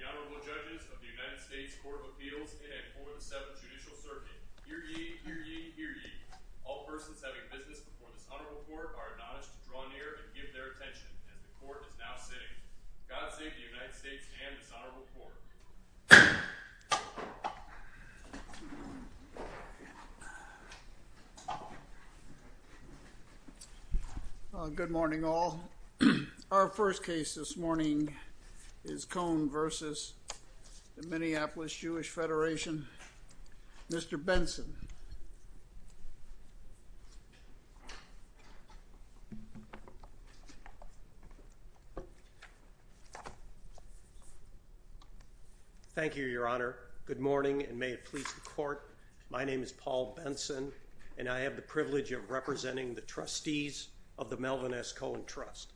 The Honorable Judges of the United States Court of Appeals in a Court of Seven Judicial Surveys. Here ye, here ye, here ye. All persons having business before the Honorable Court are admonished to draw near and give their attention as the Court is now sitting. Godspeed to the United States and the Honorable Court. Good morning all. Our first case this morning is Cohen v. Minneapolis Jewish Federation. Mr. Benson. Thank you, Your Honor. Good morning and may it please the Court. My name is Paul Benson and I have the privilege of representing the Trustees of the Melvin S. Cohen Trust.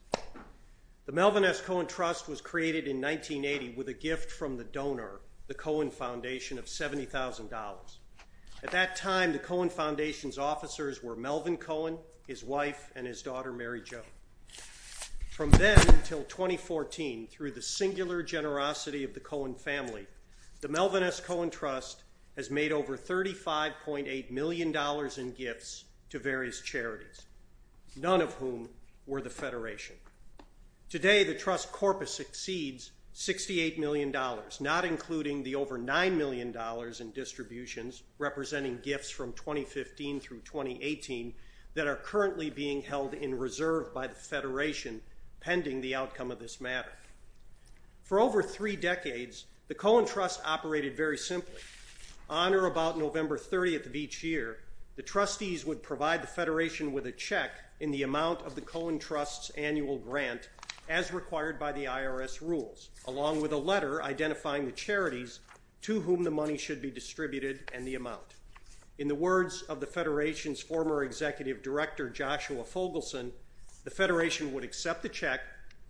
The Melvin S. Cohen Trust was created in 1980 with a gift from the donor, the Cohen Foundation, of $70,000. At that time, the Cohen Foundation's officers were Melvin Cohen, his wife, and his daughter, Mary Jo. From then until 2014, through the singular generosity of the Cohen family, the Melvin S. Cohen Trust has made over $35.8 million in gifts to various charities, none of whom were the Federation. Today, the Trust corpus exceeds $68 million, not including the over $9 million in distributions representing gifts from 2015 through 2018 that are currently being held in reserve by the Federation pending the outcome of this matter. For over three decades, the Cohen Trust operated very simply. On or about November 30th of each year, the Trustees would provide the Federation with a check in the amount of the Cohen Trust's annual grant as required by the IRS rules, along with a letter identifying the charities to whom the money should be distributed and the amount. In the words of the Federation's former Executive Director, Joshua Fogelson, the Federation would accept the check,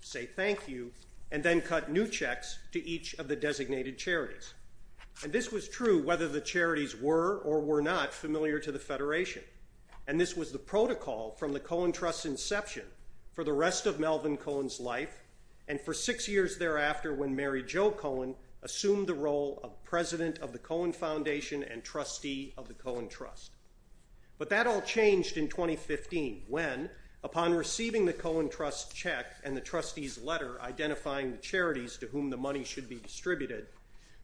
say thank you, and then cut new checks to each of the designated charities. And this was true whether the charities were or were not familiar to the Federation. And this was the protocol from the Cohen Trust's inception for the rest of Melvin Cohen's life and for six years thereafter when Mary Jo Cohen assumed the role of President of the Cohen Foundation and Trustee of the Cohen Trust. But that all changed in 2015 when, upon receiving the Cohen Trust check and the Trustees' letter identifying the charities to whom the money should be distributed,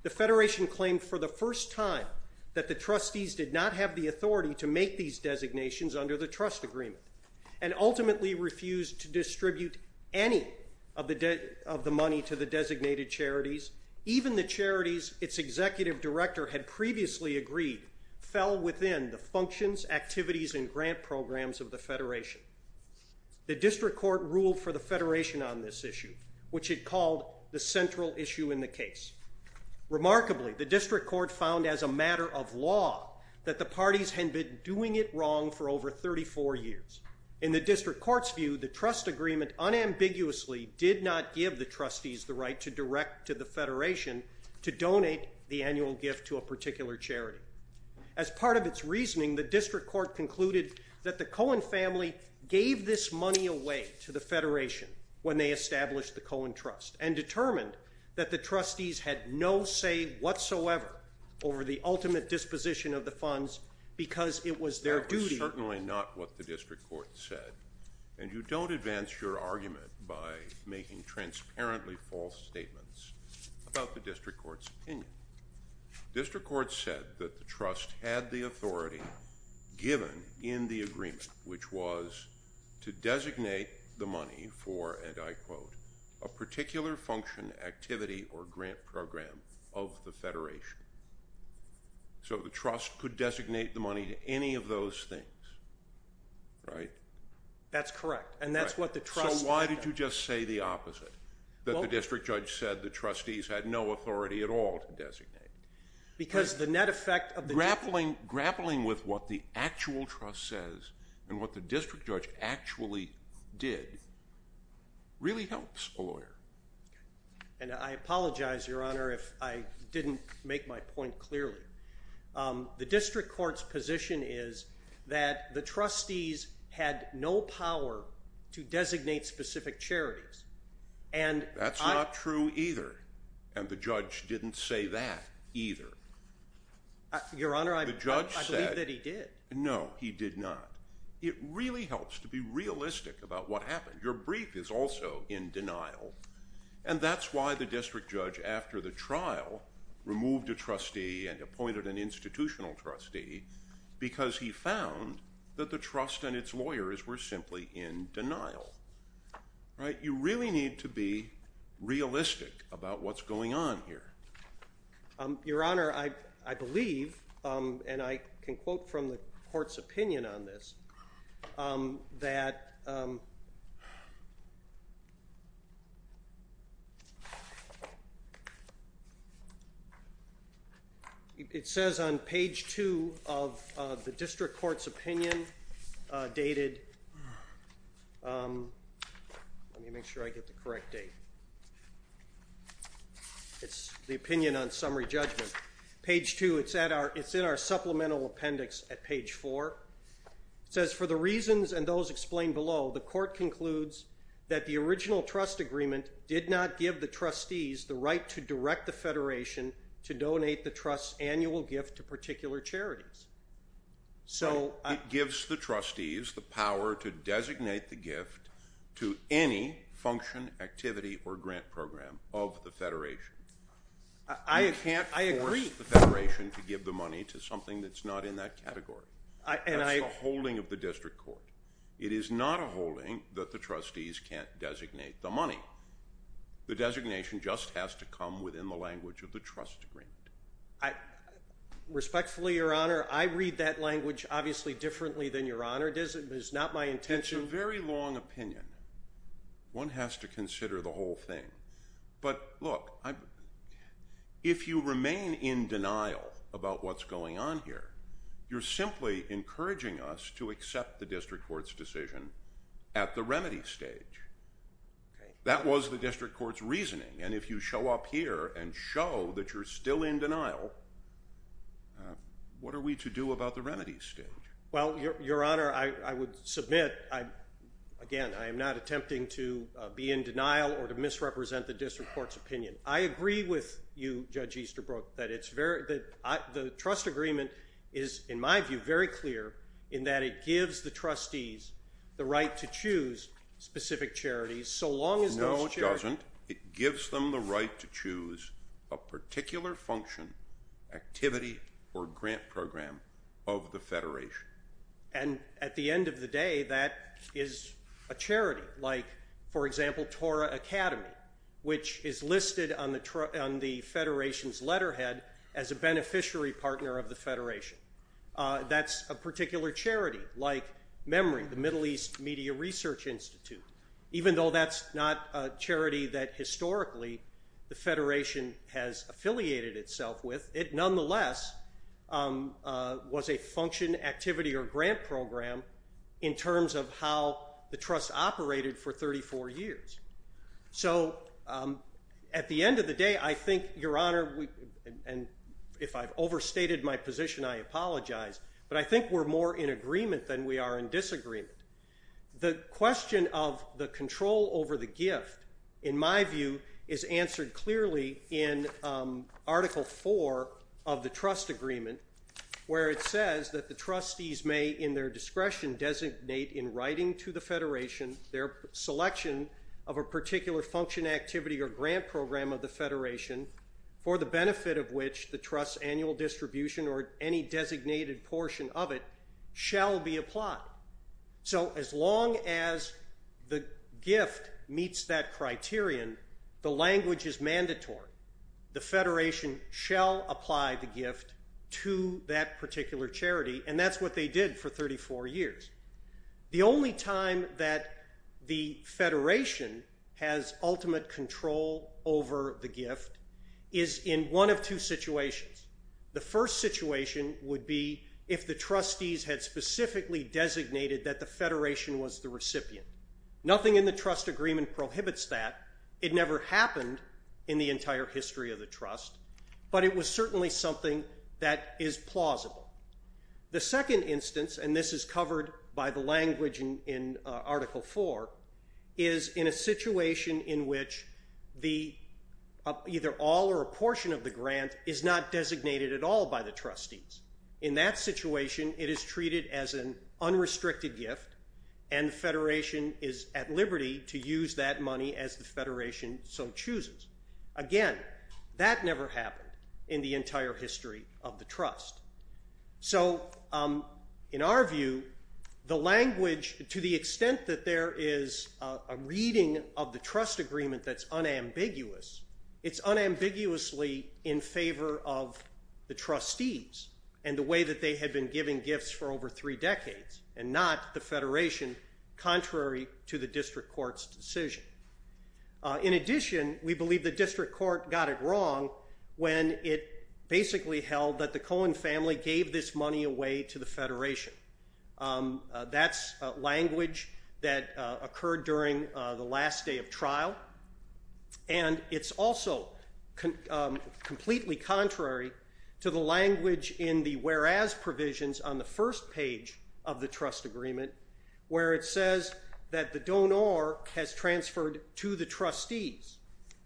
the Federation claimed for the first time that the Trustees did not have the authority to make these designations under the Trust Agreement and ultimately refused to distribute any of the money to the designated charities. In other cases, even the charities its Executive Director had previously agreed fell within the functions, activities, and grant programs of the Federation. The District Court ruled for the Federation on this issue, which it called the central issue in the case. to donate the annual gift to a particular charity. As part of its reasoning, the District Court concluded that the Cohen family gave this money away to the Federation when they established the Cohen Trust and determined that the Trustees had no say whatsoever over the ultimate disposition of the funds because it was their duty. This is certainly not what the District Court said, and you don't advance your argument by making transparently false statements about the District Court's opinion. District Court said that the Trust had the authority given in the agreement, which was to designate the money for, and I quote, a particular function, activity, or grant program of the Federation. So the Trust could designate the money to any of those things, right? That's correct, and that's what the Trust… So why did you just say the opposite, that the District Judge said the Trustees had no authority at all to designate? Because the net effect of the… Grappling with what the actual Trust says and what the District Judge actually did really helps a lawyer. And I apologize, Your Honor, if I didn't make my point clearly. The District Court's position is that the Trustees had no power to designate specific charities, and I… That's not true either, and the Judge didn't say that either. Your Honor, I believe that he did. No, he did not. It really helps to be realistic about what happened. Your brief is also in denial, and that's why the District Judge, after the trial, removed a trustee and appointed an institutional trustee, because he found that the Trust and its lawyers were simply in denial. You really need to be realistic about what's going on here. Your Honor, I believe, and I can quote from the Court's opinion on this, that… It says on page 2 of the District Court's opinion, dated… Let me make sure I get the correct date. It's the opinion on summary judgment. Page 2, it's in our supplemental appendix at page 4. It says, for the reasons and those explained below, the Court concludes that the original trust agreement did not give the Trustees the right to direct the Federation to donate the Trust's annual gift to particular charities. It gives the Trustees the power to designate the gift to any function, activity, or grant program of the Federation. I agree with the Federation to give the money to something that's not in that category. It's a holding of the District Court. It is not a holding that the Trustees can't designate the money. The designation just has to come within the language of the trust agreement. Respectfully, Your Honor, I read that language obviously differently than Your Honor does. It's not my intention… It's a very long opinion. One has to consider the whole thing. But, look, if you remain in denial about what's going on here, you're simply encouraging us to accept the District Court's decision at the remedy stage. That was the District Court's reasoning. And if you show up here and show that you're still in denial, what are we to do about the remedy stage? Well, Your Honor, I would submit… Again, I am not attempting to be in denial or to misrepresent the District Court's opinion. I agree with you, Judge Easterbrook, that the trust agreement is, in my view, very clear in that it gives the Trustees the right to choose specific charities. No, it doesn't. It gives them the right to choose a particular function, activity, or grant program of the Federation. And at the end of the day, that is a charity, like, for example, Torah Academy, which is listed on the Federation's letterhead as a beneficiary partner of the Federation. That's a particular charity, like Memory, the Middle East Media Research Institute. Even though that's not a charity that, historically, the Federation has affiliated itself with, it nonetheless was a function, activity, or grant program in terms of how the trust operated for 34 years. So, at the end of the day, I think, Your Honor, and if I've overstated my position, I apologize, but I think we're more in agreement than we are in disagreement. The question of the control over the gift, in my view, is answered clearly in Article 4 of the trust agreement, where it says that the Trustees may, in their discretion, designate, in writing to the Federation, their selection of a particular function, activity, or grant program of the Federation for the benefit of which the trust's annual distribution or any designated portion of it shall be applied. So, as long as the gift meets that criterion, the language is mandatory. The Federation shall apply the gift to that particular charity, and that's what they did for 34 years. The only time that the Federation has ultimate control over the gift is in one of two situations. The first situation would be if the Trustees had specifically designated that the Federation was the recipient. Nothing in the trust agreement prohibits that. It never happened in the entire history of the trust, but it was certainly something that is plausible. The second instance, and this is covered by the language in Article 4, is in a situation in which either all or a portion of the grant is not designated at all by the Trustees. In that situation, it is treated as an unrestricted gift, and the Federation is at liberty to use that money as the Federation so chooses. Again, that never happened in the entire history of the trust. So, in our view, the language, to the extent that there is a reading of the trust agreement that's unambiguous, it's unambiguously in favor of the Trustees and the way that they had been giving gifts for over three decades, and not the Federation, contrary to the district court's decision. In addition, we believe the district court got it wrong when it basically held that the Cohen family gave this money away to the Federation. That's language that occurred during the last day of trial, and it's also completely contrary to the language in the whereas provisions on the first page of the trust agreement where it says that the donor has transferred to the Trustees,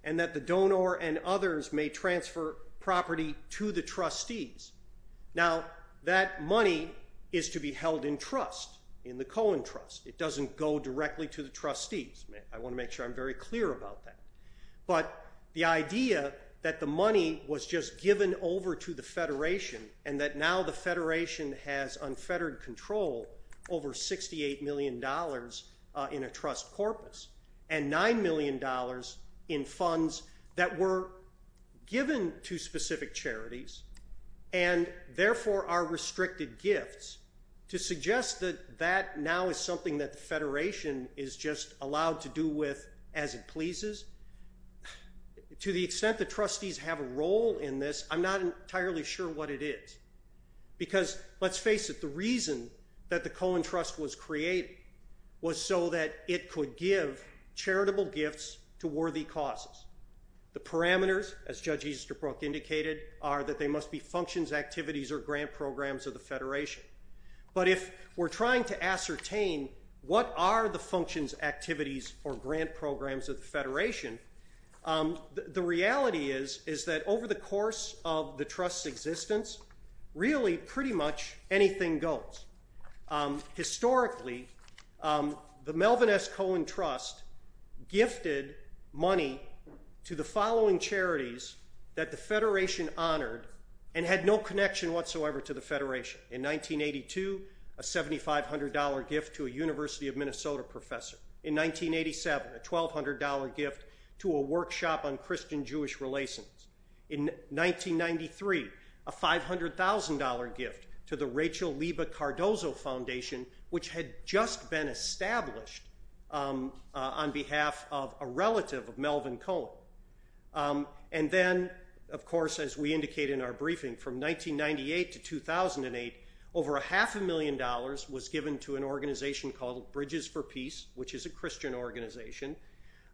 and that the donor and others may transfer property to the Trustees. Now, that money is to be held in trust, in the Cohen trust. It doesn't go directly to the Trustees. I want to make sure I'm very clear about that. But the idea that the money was just given over to the Federation, and that now the Federation has unfettered control over $68 million in a trust corpus, and $9 million in funds that were given to specific charities, and therefore are restricted gifts, to suggest that that now is something that the Federation is just allowed to do with as it pleases, to the extent that Trustees have a role in this, I'm not entirely sure what it is. Because, let's face it, the reason that the Cohen trust was created was so that it could give charitable gifts to worthy causes. The parameters, as Judge Easterbrook indicated, are that they must be functions, activities, or grant programs of the Federation. But if we're trying to ascertain what are the functions, activities, or grant programs of the Federation, the reality is that over the course of the trust's existence, really pretty much anything goes. Historically, the Melvin S. Cohen trust gifted money to the following charities that the Federation honored, and had no connection whatsoever to the Federation. In 1982, a $7,500 gift to a University of Minnesota professor. In 1987, a $1,200 gift to a workshop on Christian-Jewish relations. In 1993, a $500,000 gift to the Rachel Liba Cardozo Foundation, which had just been established on behalf of a relative of Melvin Cohen. And then, of course, as we indicated in our briefing, from 1998 to 2008, over a half a million dollars was given to an organization called Bridges for Peace, which is a Christian organization.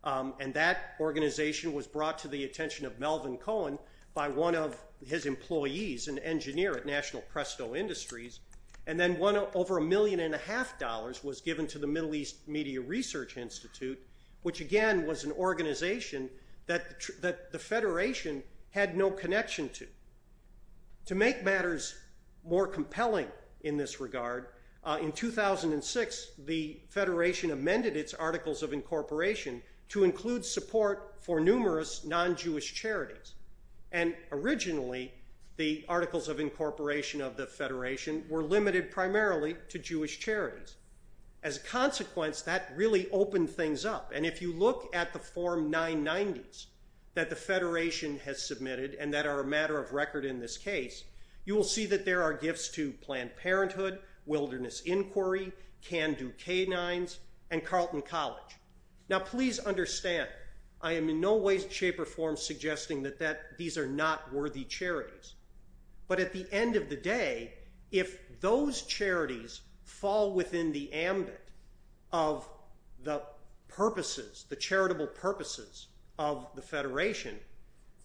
And that organization was brought to the attention of Melvin Cohen by one of his employees, an engineer at National Presto Industries. And then over a million and a half dollars was given to the Middle East Media Research Institute, which again was an organization that the Federation had no connection to. To make matters more compelling in this regard, in 2006, the Federation amended its Articles of Incorporation to include support for numerous non-Jewish charities. And originally, the Articles of Incorporation of the Federation were limited primarily to Jewish charities. As a consequence, that really opened things up. And if you look at the Form 990s that the Federation has submitted, and that are a matter of record in this case, you will see that there are gifts to Planned Parenthood, Wilderness Inquiry, Can Do Canines, and Carleton College. Now please understand, I am in no way, shape, or form suggesting that these are not worthy charities. But at the end of the day, if those charities fall within the ambit of the purposes, the charitable purposes of the Federation,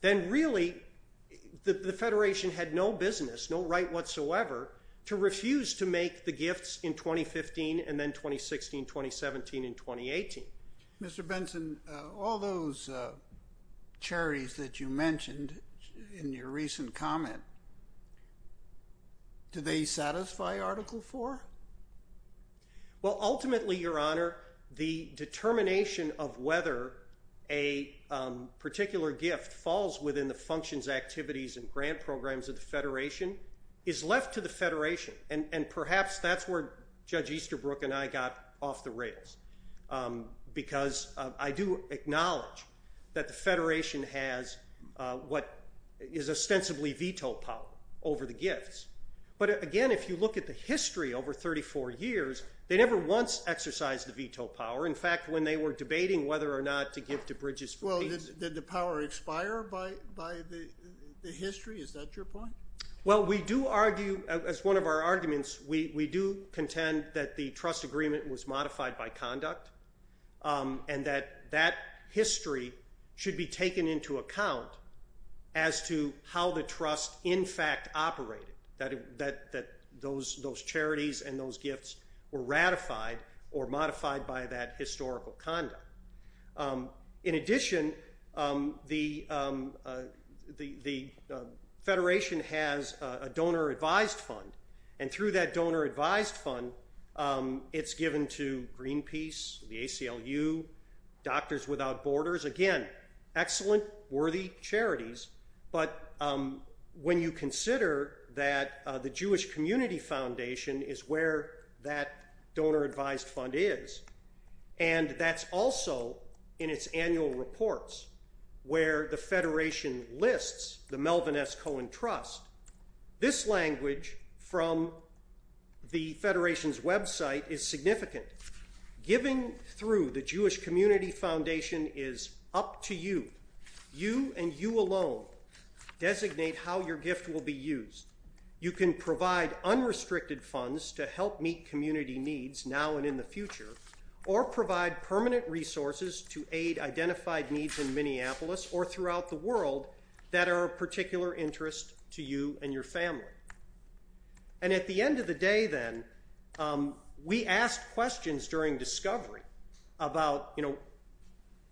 then really the Federation had no business, no right whatsoever, to refuse to make the gifts in 2015, and then 2016, 2017, and 2018. Mr. Benson, all those charities that you mentioned in your recent comment, do they satisfy Article 4? Ultimately, Your Honor, the determination of whether a particular gift falls within the functions, activities, and grant programs of the Federation is left to the Federation. And perhaps that's where Judge Easterbrook and I got off the rails. Because I do acknowledge that the Federation has what is ostensibly veto power over the gifts. But again, if you look at the history over 34 years, they never once exercised the veto power. In fact, when they were debating whether or not to give to Bridges for Peace. Well, did the power expire by the history? Is that your point? Well, we do argue, as one of our arguments, we do contend that the trust agreement was modified by conduct, and that that history should be taken into account as to how the trust in fact operated. That those charities and those gifts were ratified or modified by that historical conduct. In addition, the Federation has a donor advised fund. And through that donor advised fund, it's given to Greenpeace, the ACLU, Doctors Without Borders. Again, excellent, worthy charities. But when you consider that the Jewish Community Foundation is where that donor advised fund is, and that's also in its annual reports where the Federation lists the Melvin S. Cohen Trust, this language from the Federation's website is significant. Giving through the Jewish Community Foundation is up to you. You and you alone designate how your gift will be used. You can provide unrestricted funds to help meet community needs now and in the future, or provide permanent resources to aid identified needs in Minneapolis or throughout the world that are of particular interest to you and your family. And at the end of the day, then, we ask questions during discovery about, you know,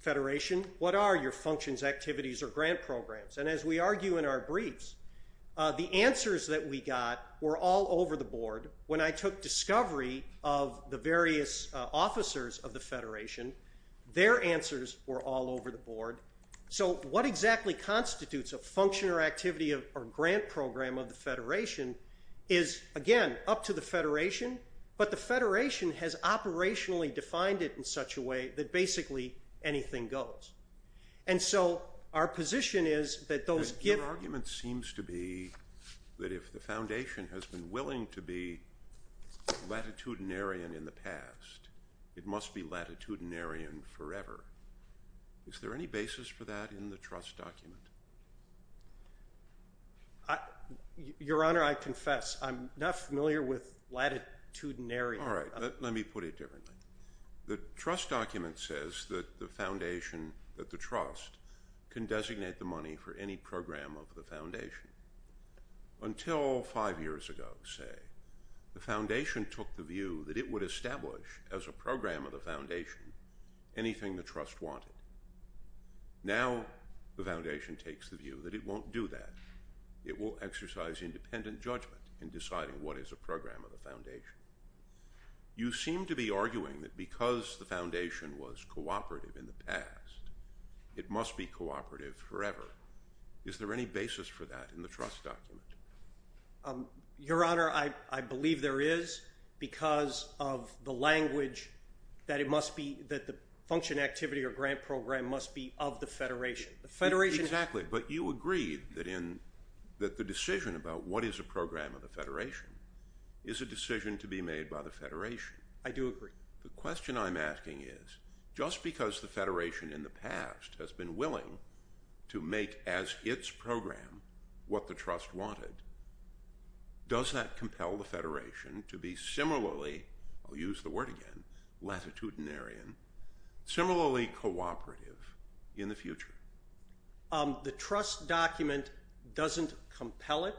Federation, what are your functions, activities, or grant programs? And as we argue in our briefs, the answers that we got were all over the board. When I took discovery of the various officers of the Federation, their answers were all over the board. So what exactly constitutes a function or activity of a grant program of the Federation is, again, up to the Federation, but the Federation has operationally defined it in such a way that basically anything goes. And so our position is that those gifts... Your argument seems to be that if the Foundation has been willing to be latitudinarian in the past, it must be latitudinarian forever. Is there any basis for that in the trust document? Your Honor, I confess, I'm not familiar with latitudinarian. All right, let me put it differently. The trust document says that the Foundation, that the trust, can designate the money for any program of the Foundation. Until five years ago, say, the Foundation took the view that it would establish, as a program of the Foundation, anything the trust wanted. Now the Foundation takes the view that it won't do that. It will exercise independent judgment in deciding what is a program of the Foundation. You seem to be arguing that because the Foundation was cooperative in the past, it must be cooperative forever. Is there any basis for that in the trust document? Your Honor, I believe there is because of the language that it must be, that the function, activity, or grant program must be of the Federation. The Federation is active. Exactly, but you agree that the decision about what is a program of the Federation is a decision to be made by the Federation. I do agree. The question I'm asking is, just because the Federation in the past has been willing to make as its program what the trust wanted, does that compel the Federation to be similarly, I'll use the word again, latitudinarian, similarly cooperative in the future? The trust document doesn't compel it.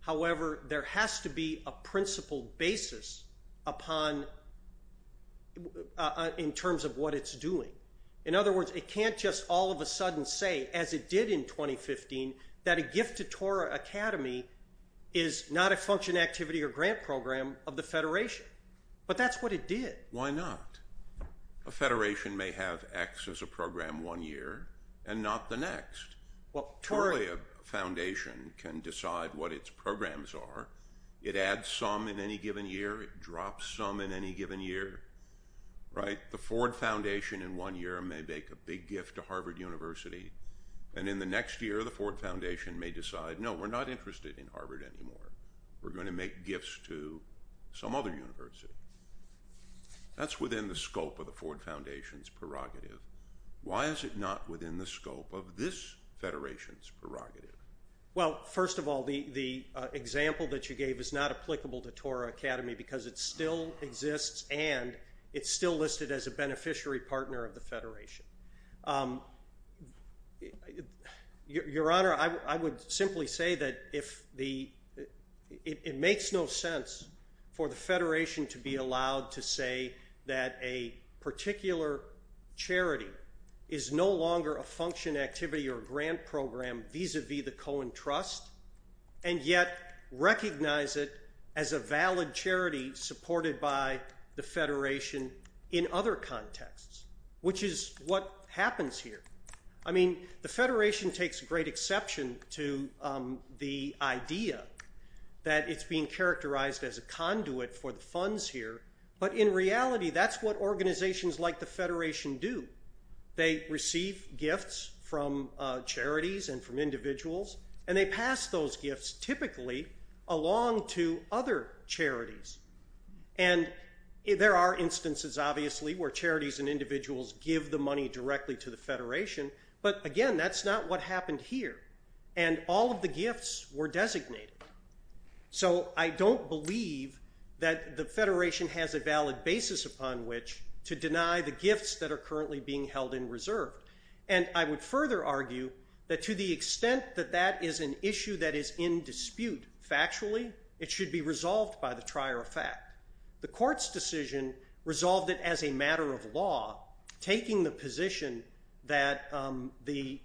However, there has to be a principal basis in terms of what it's doing. In other words, it can't just all of a sudden say, as it did in 2015, that a gift to Torah Academy is not a function, activity, or grant program of the Federation. But that's what it did. Why not? A Federation may have X as a program one year and not the next. A foundation can decide what its programs are. It adds some in any given year. It drops some in any given year. The Ford Foundation in one year may make a big gift to Harvard University, and in the next year the Ford Foundation may decide, no, we're not interested in Harvard anymore. We're going to make gifts to some other university. That's within the scope of the Ford Foundation's prerogative. Why is it not within the scope of this Federation's prerogative? Well, first of all, the example that you gave is not applicable to Torah Academy because it still exists, and it's still listed as a beneficiary partner of the Federation. Your Honor, I would simply say that it makes no sense for the Federation to be allowed to say that a particular charity is no longer a function, activity, or grant program vis-à-vis the Cohen Trust, and yet recognize it as a valid charity supported by the Federation in other contexts, which is what happens here. I mean, the Federation takes great exception to the idea that it's being characterized as a conduit for the funds here, but in reality that's what organizations like the Federation do. They receive gifts from charities and from individuals, and they pass those gifts typically along to other charities. And there are instances, obviously, where charities and individuals give the money directly to the Federation, but again, that's not what happened here. And all of the gifts were designated. So I don't believe that the Federation has a valid basis upon which to deny the gifts that are currently being held in reserve. And I would further argue that to the extent that that is an issue that is in dispute factually, it should be resolved by the trier of fact. The Court's decision resolved it as a matter of law, taking the position that all the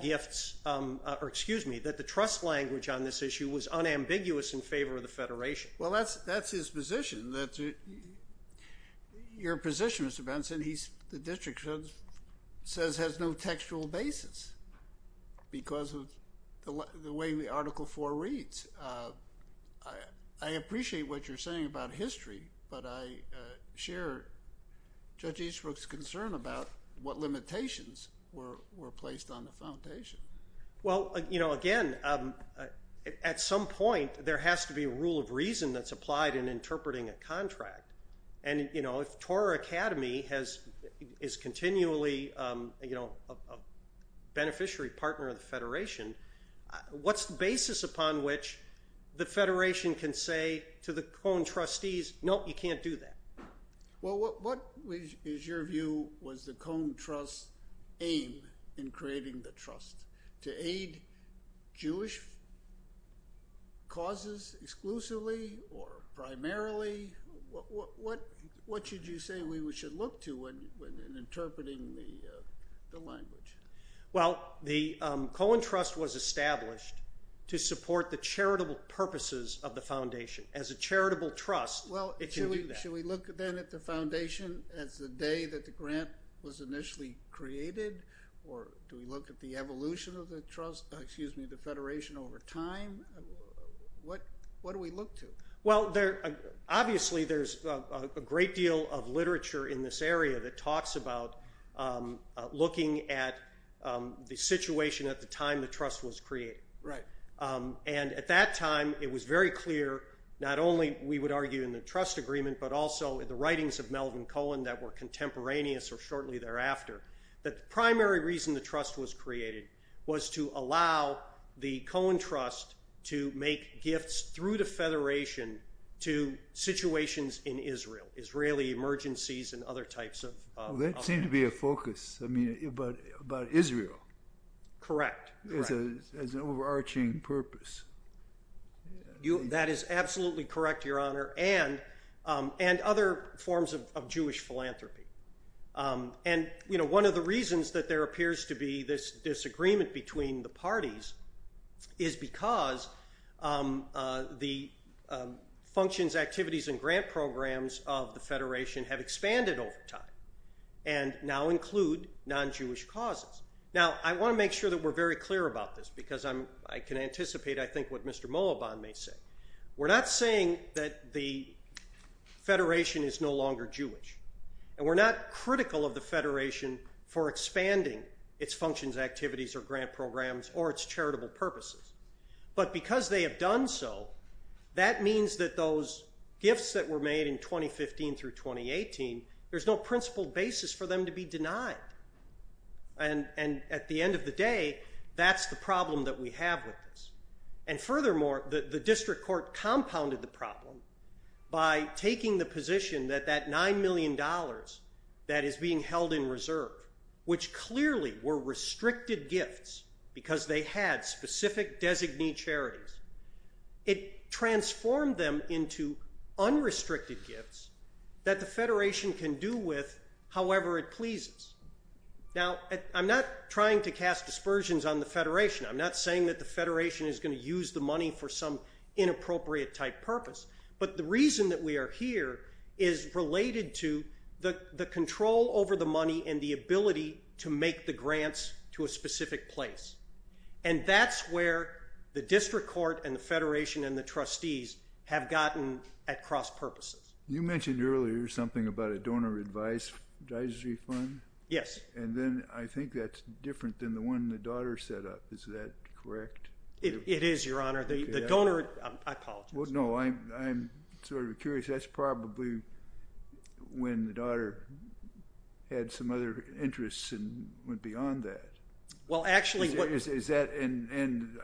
gifts, or excuse me, that the trust language on this issue was unambiguous in favor of the Federation. Well, that's his position. Your position, Mr. Benson, the district says has no textual basis because of the way the Article IV reads. I appreciate what you're saying about history, but I share Judge Eastbrook's concern about what limitations were placed on the foundation. Well, again, at some point there has to be a rule of reason that's applied in the contract. And, you know, if Torah Academy is continually, you know, a beneficiary partner of the Federation, what's the basis upon which the Federation can say to the Cone trustees, nope, you can't do that? Well, what is your view was the Cone Trust's aim in creating the trust? To aid Jewish causes exclusively or primarily? What should you say we should look to in interpreting the language? Well, the Cone Trust was established to support the charitable purposes of the foundation. As a charitable trust, it can do that. Should we look then at the foundation at the day that the grant was initially created? Or do we look at the evolution of the trust, excuse me, the Federation over time? What do we look to? Well, obviously there's a great deal of literature in this area that talks about looking at the situation at the time the trust was created. Right. And at that time it was very clear not only, we would argue in the trust agreement, but also in the writings of Melvin Cone that were contemporaneous or shortly thereafter. The primary reason the trust was created was to allow the Cone Trust to make gifts through the Federation to situations in Israel, Israeli emergencies and other types of- That seemed to be a focus, I mean, about Israel. Correct. As an overarching purpose. That is absolutely correct, Your Honor. And other forms of Jewish philanthropy. And, you know, one of the reasons that there appears to be this disagreement between the parties is because the functions, activities and grant programs of the Federation have expanded over time and now include non-Jewish causes. Now I want to make sure that we're very clear about this because I can anticipate, I think, what Mr. Moaban may say. We're not saying that the Federation is no longer Jewish. And we're not critical of the Federation for expanding its functions, activities or grant programs or its charitable purposes. But because they have done so, that means that those gifts that were made in 2015 through 2018, there's no principle basis for them to be denied. And at the end of the day, that's the problem that we have with this. And furthermore, the district court compounded the problem by taking the position that that $9 million that is being held in reserve, which clearly were restricted gifts because they had specific designee charities. It transformed them into unrestricted gifts that the Federation can do with however it pleases. Now I'm not trying to cast aspersions on the Federation. I'm not saying that the Federation is going to use the money for some inappropriate type purpose. But the reason that we are here is related to the control over the money and the ability to make the grants to a specific place. And that's where the district court and the Federation and the trustees have gotten at cross purposes. You mentioned earlier something about a donor advised advisory fund. Yes. And then I think that's different than the one the daughter set up. Is that correct? It is, Your Honor. The donor, I apologize. Well, no, I'm sort of curious. That's probably when the daughter had some other interests and went beyond that. Well, actually. Is that, and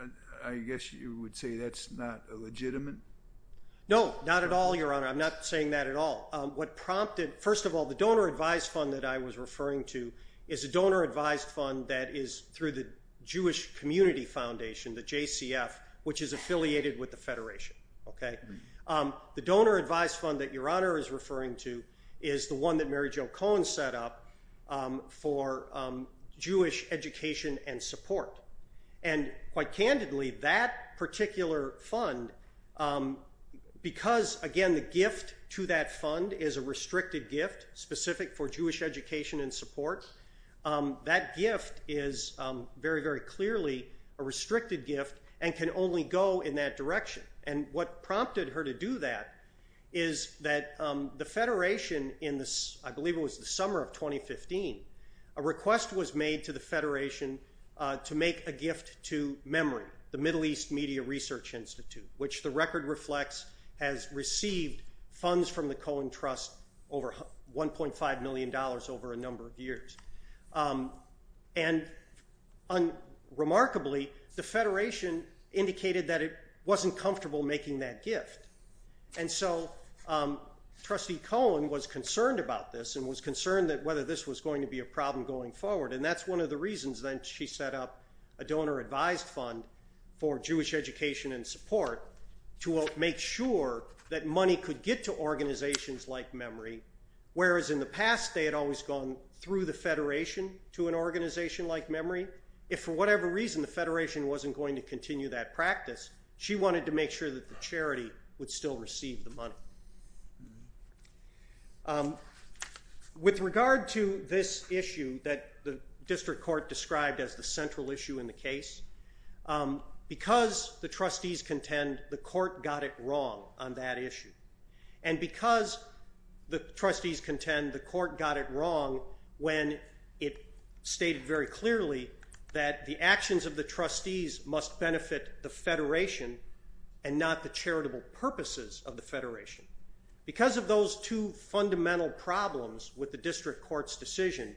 I guess you would say that's not illegitimate? No, not at all, Your Honor. I'm not saying that at all. What prompted, first of all, the donor advised fund that I was referring to is a donor advised fund that is through the Jewish Community Foundation, the JCF, which is affiliated with the Federation. Okay. The donor advised fund that Your Honor is referring to is the one that Mary Jo Cohen set up for Jewish education and support. And quite candidly, that particular fund, because, again, the gift to that fund is a restricted gift specific for Jewish education and support. That gift is very, very clearly a restricted gift and can only go in that direction. And what prompted her to do that is that the Federation in this, I believe it was the summer of 2015, a request was made to the Federation to make a gift to Memory, the Middle East Media Research Institute, which the record reflects has received funds from the Cohen Trust over $1.5 million over a number of years. And remarkably, the Federation indicated that it wasn't comfortable making that gift. And so Trustee Cohen was concerned about this and was concerned that whether this was going to be a problem going forward. And that's one of the reasons that she set up a donor advised fund for Jewish education and support to make sure that money could get to organizations like Memory. Last they had always gone through the Federation to an organization like Memory. If for whatever reason the Federation wasn't going to continue that practice, she wanted to make sure that the charity would still receive the money. With regard to this issue that the district court described as the central issue in the case, because the trustees contend the court got it wrong on that issue. And because the trustees contend the court got it wrong when it stayed very clearly that the actions of the trustees must benefit the Federation and not the charitable purposes of the Federation. Because of those two fundamental problems with the district court's decision,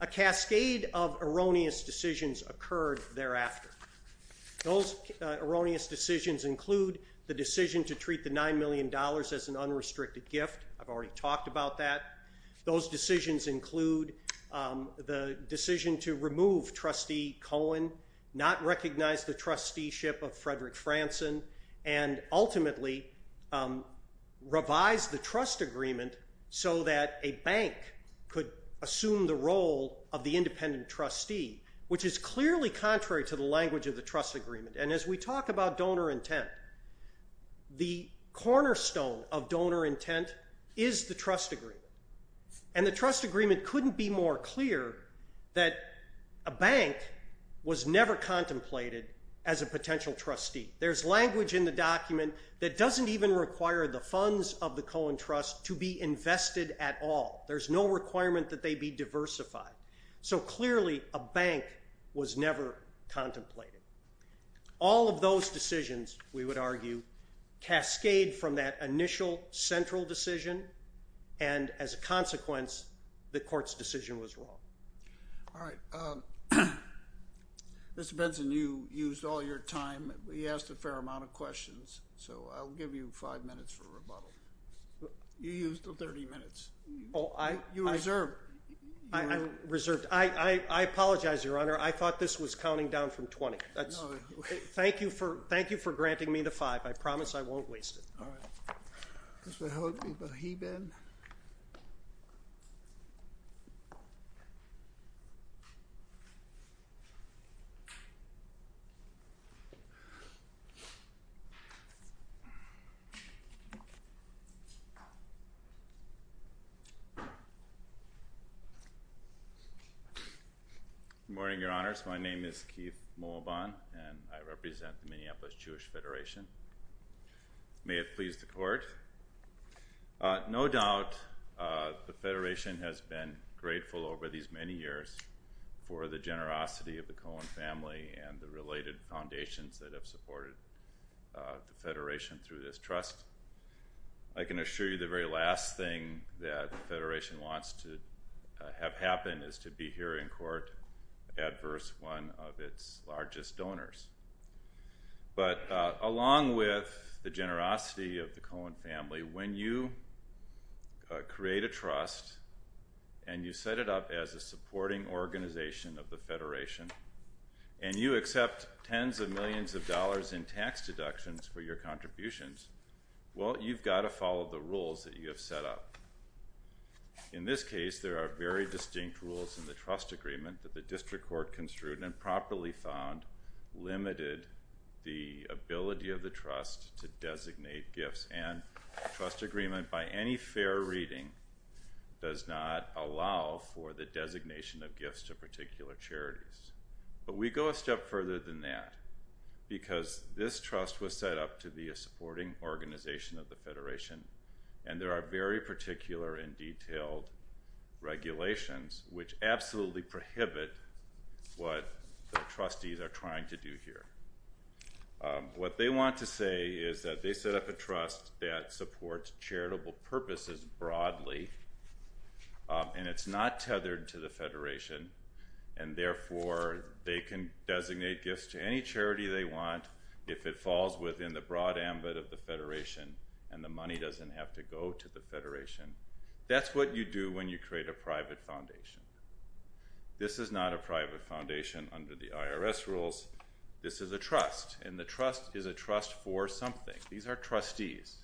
a cascade of erroneous decisions occurred thereafter. Those erroneous decisions include the decision to treat the $9 million as an unrestricted gift. I've already talked about that. Those decisions include the decision to remove Trustee Cohen, not recognize the trusteeship of Frederick Franson, and ultimately revise the trust agreement so that a bank could assume the role of the independent trustee, which is clearly contrary to the language of the trust agreement. And as we talk about donor intent, the cornerstone of donor intent is the trust agreement. And the trust agreement couldn't be more clear that a bank was never contemplated as a potential trustee. There's language in the document that doesn't even require the funds of the Cohen Trust to be invested at all. There's no requirement that they be diversified. So clearly a bank was never contemplated. All of those decisions, we would argue, cascade from that initial central decision, and as a consequence the court's decision was wrong. All right. Mr. Benson, you used all your time. We asked a fair amount of questions, so I'll give you five minutes for rebuttal. You used the 30 minutes. You reserved. Reserved. I apologize, Your Honor. I thought this was counting down from 20. Thank you for granting me the five. I promise I won't waste it. All right. Mr. Hogan from HBIN. Good morning, Your Honors. My name is Keith Mulvahn, and I represent the Minneapolis Jewish Federation. May it please the court. No doubt the Federation has been grateful over these many years for the generosity of the Cohen family and the related foundations that have supported the Federation through this trust. I can assure you the very last thing that the Federation wants to have happen is to be here in court adverse one of its largest donors. But along with the generosity of the Cohen family, when you create a trust and you set it up as a supporting organization of the Federation and you accept tens of millions of dollars in tax deductions for your contributions, well, you've got to follow the rules that you have set up. In this case, there are very distinct rules in the trust agreement that the district court has construed and properly found limited the ability of the trust to designate gifts and trust agreement by any fair reading does not allow for the designation of gifts to particular charities. But we go a step further than that because this trust was set up to be a supporting organization of the Federation, and there are very particular and detailed regulations which absolutely prohibit what the trustees are trying to do here. What they want to say is that they set up a trust that supports charitable purposes broadly and it's not tethered to the Federation and therefore they can designate gifts to any charity they want if it falls within the broad ambit of the Federation and the money doesn't have to go to the Federation. That's what you do when you create a private foundation. This is not a private foundation under the IRS rules. This is a trust and the trust is a trust for something. These are trustees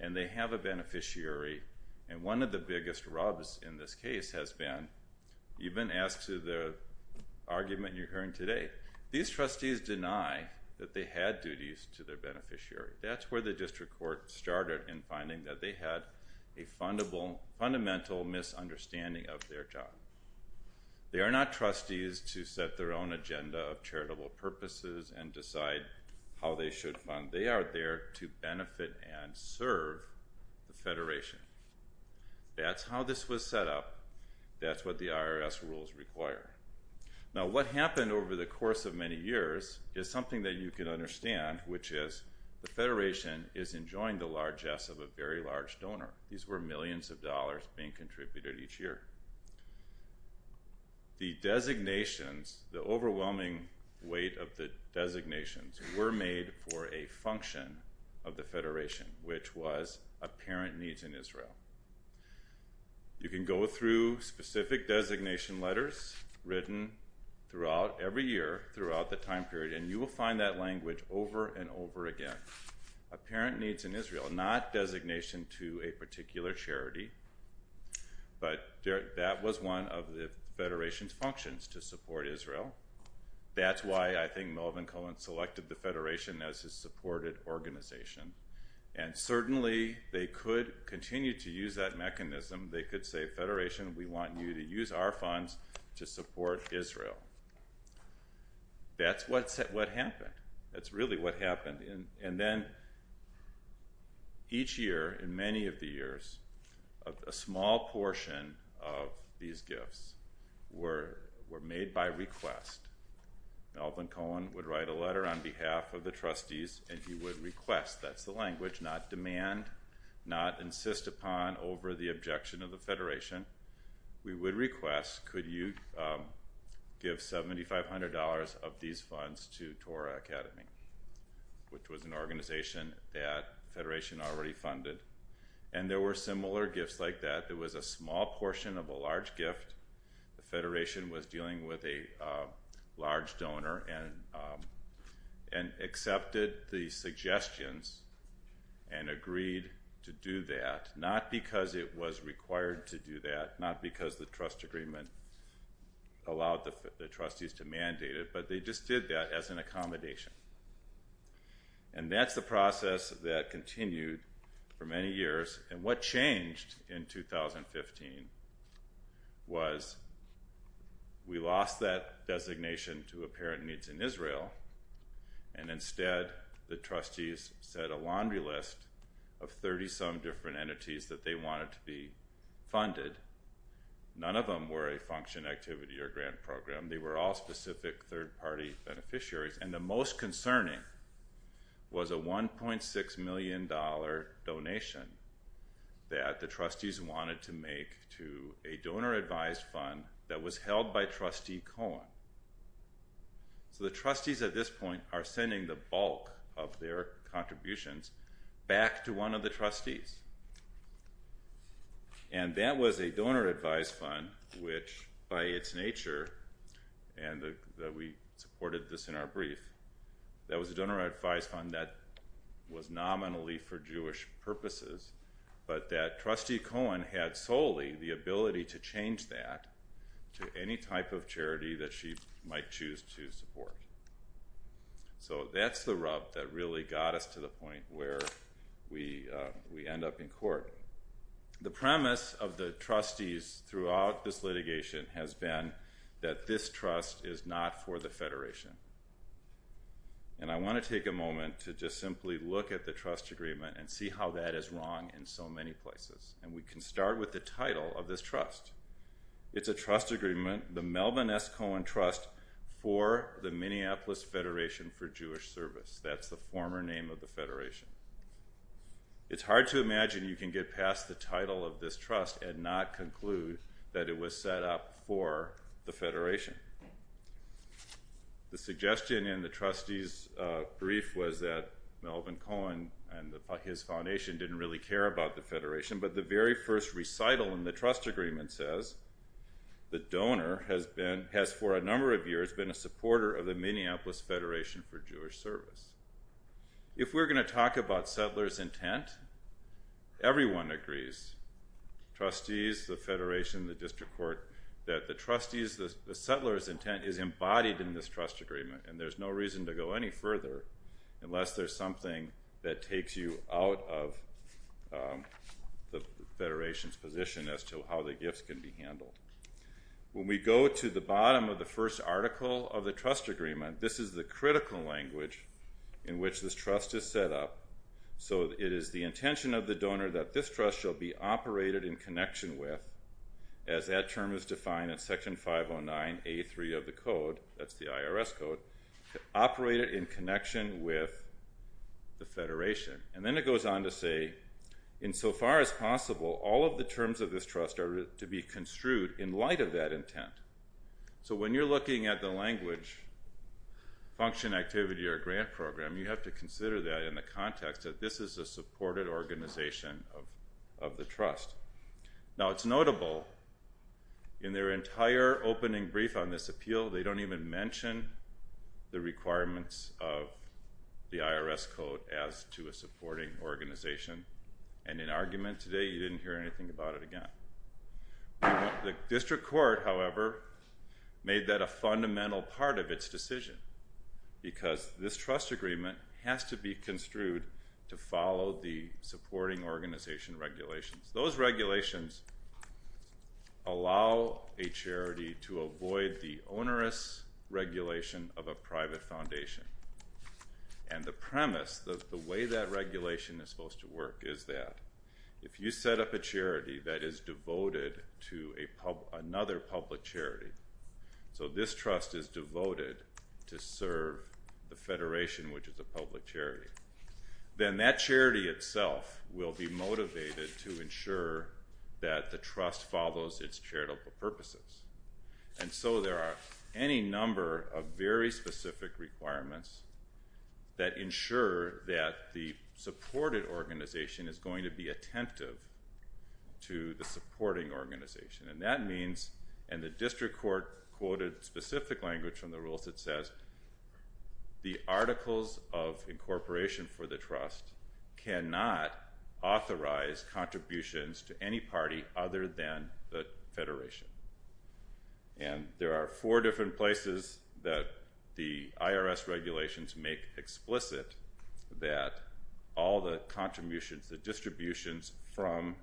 and they have a beneficiary and one of the biggest rubs in this case has been even as to the argument you're hearing today, these trustees deny that they had duties to their beneficiary. That's where the district court started in finding that they had a fundamental misunderstanding of their job. They are not trustees to set their own agenda of charitable purposes and decide how they should fund. They are there to benefit and serve the Federation. That's how this was set up. That's what the IRS rules require. Now what happened over the course of many years is something that you can understand which is the Federation is enjoying the largesse of a very large donor. These were millions of dollars being contributed each year. The designations, the overwhelming weight of the designations were made for a function of the Federation which was apparent needs in Israel. You can go through specific designation letters written throughout every year, throughout the time period, and you will find that language over and over again. Apparent needs in Israel, not designation to a particular charity, but that was one of the Federation's functions to support Israel. That's why I think Melvin Cohen selected the Federation as his supported organization. And certainly they could continue to use that mechanism. They could say, Federation, we want you to use our funds to support Israel. That's what happened. That's really what happened. And then each year, in many of the years, a small portion of these gifts were made by request. Melvin Cohen would write a letter on behalf of the trustees and he would request, that's the language, not demand, not insist upon over the objection of the Federation, we would request could you give $7,500 of these funds to Torah Academy, which was an organization that the Federation already funded. And there were similar gifts like that. It was a small portion of a large gift. The Federation was dealing with a large donor and accepted the suggestions and agreed to do that, not because it was required to do that, not because the trust agreement allowed the trustees to mandate it, but they just did that as an accommodation. And that's the process that continued for many years. And what changed in 2015 was we lost that designation to Apparent Needs in Israel and instead the trustees set a laundry list of 30-some different entities that they wanted to be funded. None of them were a function, activity, or grant program. They were all specific third-party beneficiaries. And the most concerning was a $1.6 million donation that the trustees wanted to make to a donor-advised fund that was held by Trustee Cohen. The trustees at this point are sending the bulk of their contributions back to one of the trustees. And that was a donor-advised fund which, by its nature, and we supported this in our brief, that was a donor-advised fund that was nominally for Jewish purposes, but that Trustee Cohen had solely the ability to change that to any type of charity that she might choose to support. So that's the rub that really got us to the point where we end up in court. The premise of the trustees throughout this litigation has been that this trust is not for the Federation. And I want to take a moment to just simply look at the trust agreement and see how that is wrong in so many places. And we can start with the title of this trust. It's a trust agreement, the Melvin S. Cohen Trust for the Minneapolis Federation for Jewish Service. That's the former name of the Federation. It's hard to imagine you can get past the title of this trust and not conclude that it was set up for the Federation. The suggestion in the trustees' brief was that Melvin Cohen and his foundation didn't really care about the Federation, but the very first recital in the trust agreement says the donor has, for a number of years, been a supporter of the Minneapolis Federation for Jewish Service. If we're going to talk about settlers' intent, everyone agrees, trustees, the Federation, the district court, that the settlers' intent is embodied in this trust agreement, and there's no reason to go any further unless there's something that takes you out of the Federation's position as to how the gifts can be handled. When we go to the bottom of the first article of the trust agreement, this is the critical language in which this trust is set up. So it is the intention of the donor that this trust shall be operated in connection with, as that term is defined in Section 509A3 of the code, that's the IRS code, to operate it in connection with the Federation. And then it goes on to say, insofar as possible, all of the terms of this trust are to be construed in light of that intent. So when you're looking at the language, function, activity, or grant program, you have to consider that in the context that this is a supported organization of the trust. Now, it's notable in their entire opening brief on this appeal, they don't even mention the requirements of the IRS code as to a supporting organization. And in argument today, you didn't hear anything about it again. The district court, however, made that a fundamental part of its decision because this trust agreement has to be construed to follow the supporting organization regulations. Those regulations allow a charity to avoid the onerous regulation of a private foundation. And the premise, the way that regulation is supposed to work is that if you set up a charity that is devoted to another public charity, so this trust is devoted to serve the Federation, which is a public charity, then that charity itself will be motivated to ensure that the trust follows its charitable purposes. And so there are any number of very specific requirements that ensure that the supported organization is going to be attentive to the supporting organization. And that means, and the district court quoted specific language from the rules that says, the articles of incorporation for the trust cannot authorize contributions to any party other than the Federation. And there are four different places that the IRS regulations make explicit that all the contributions, the distributions from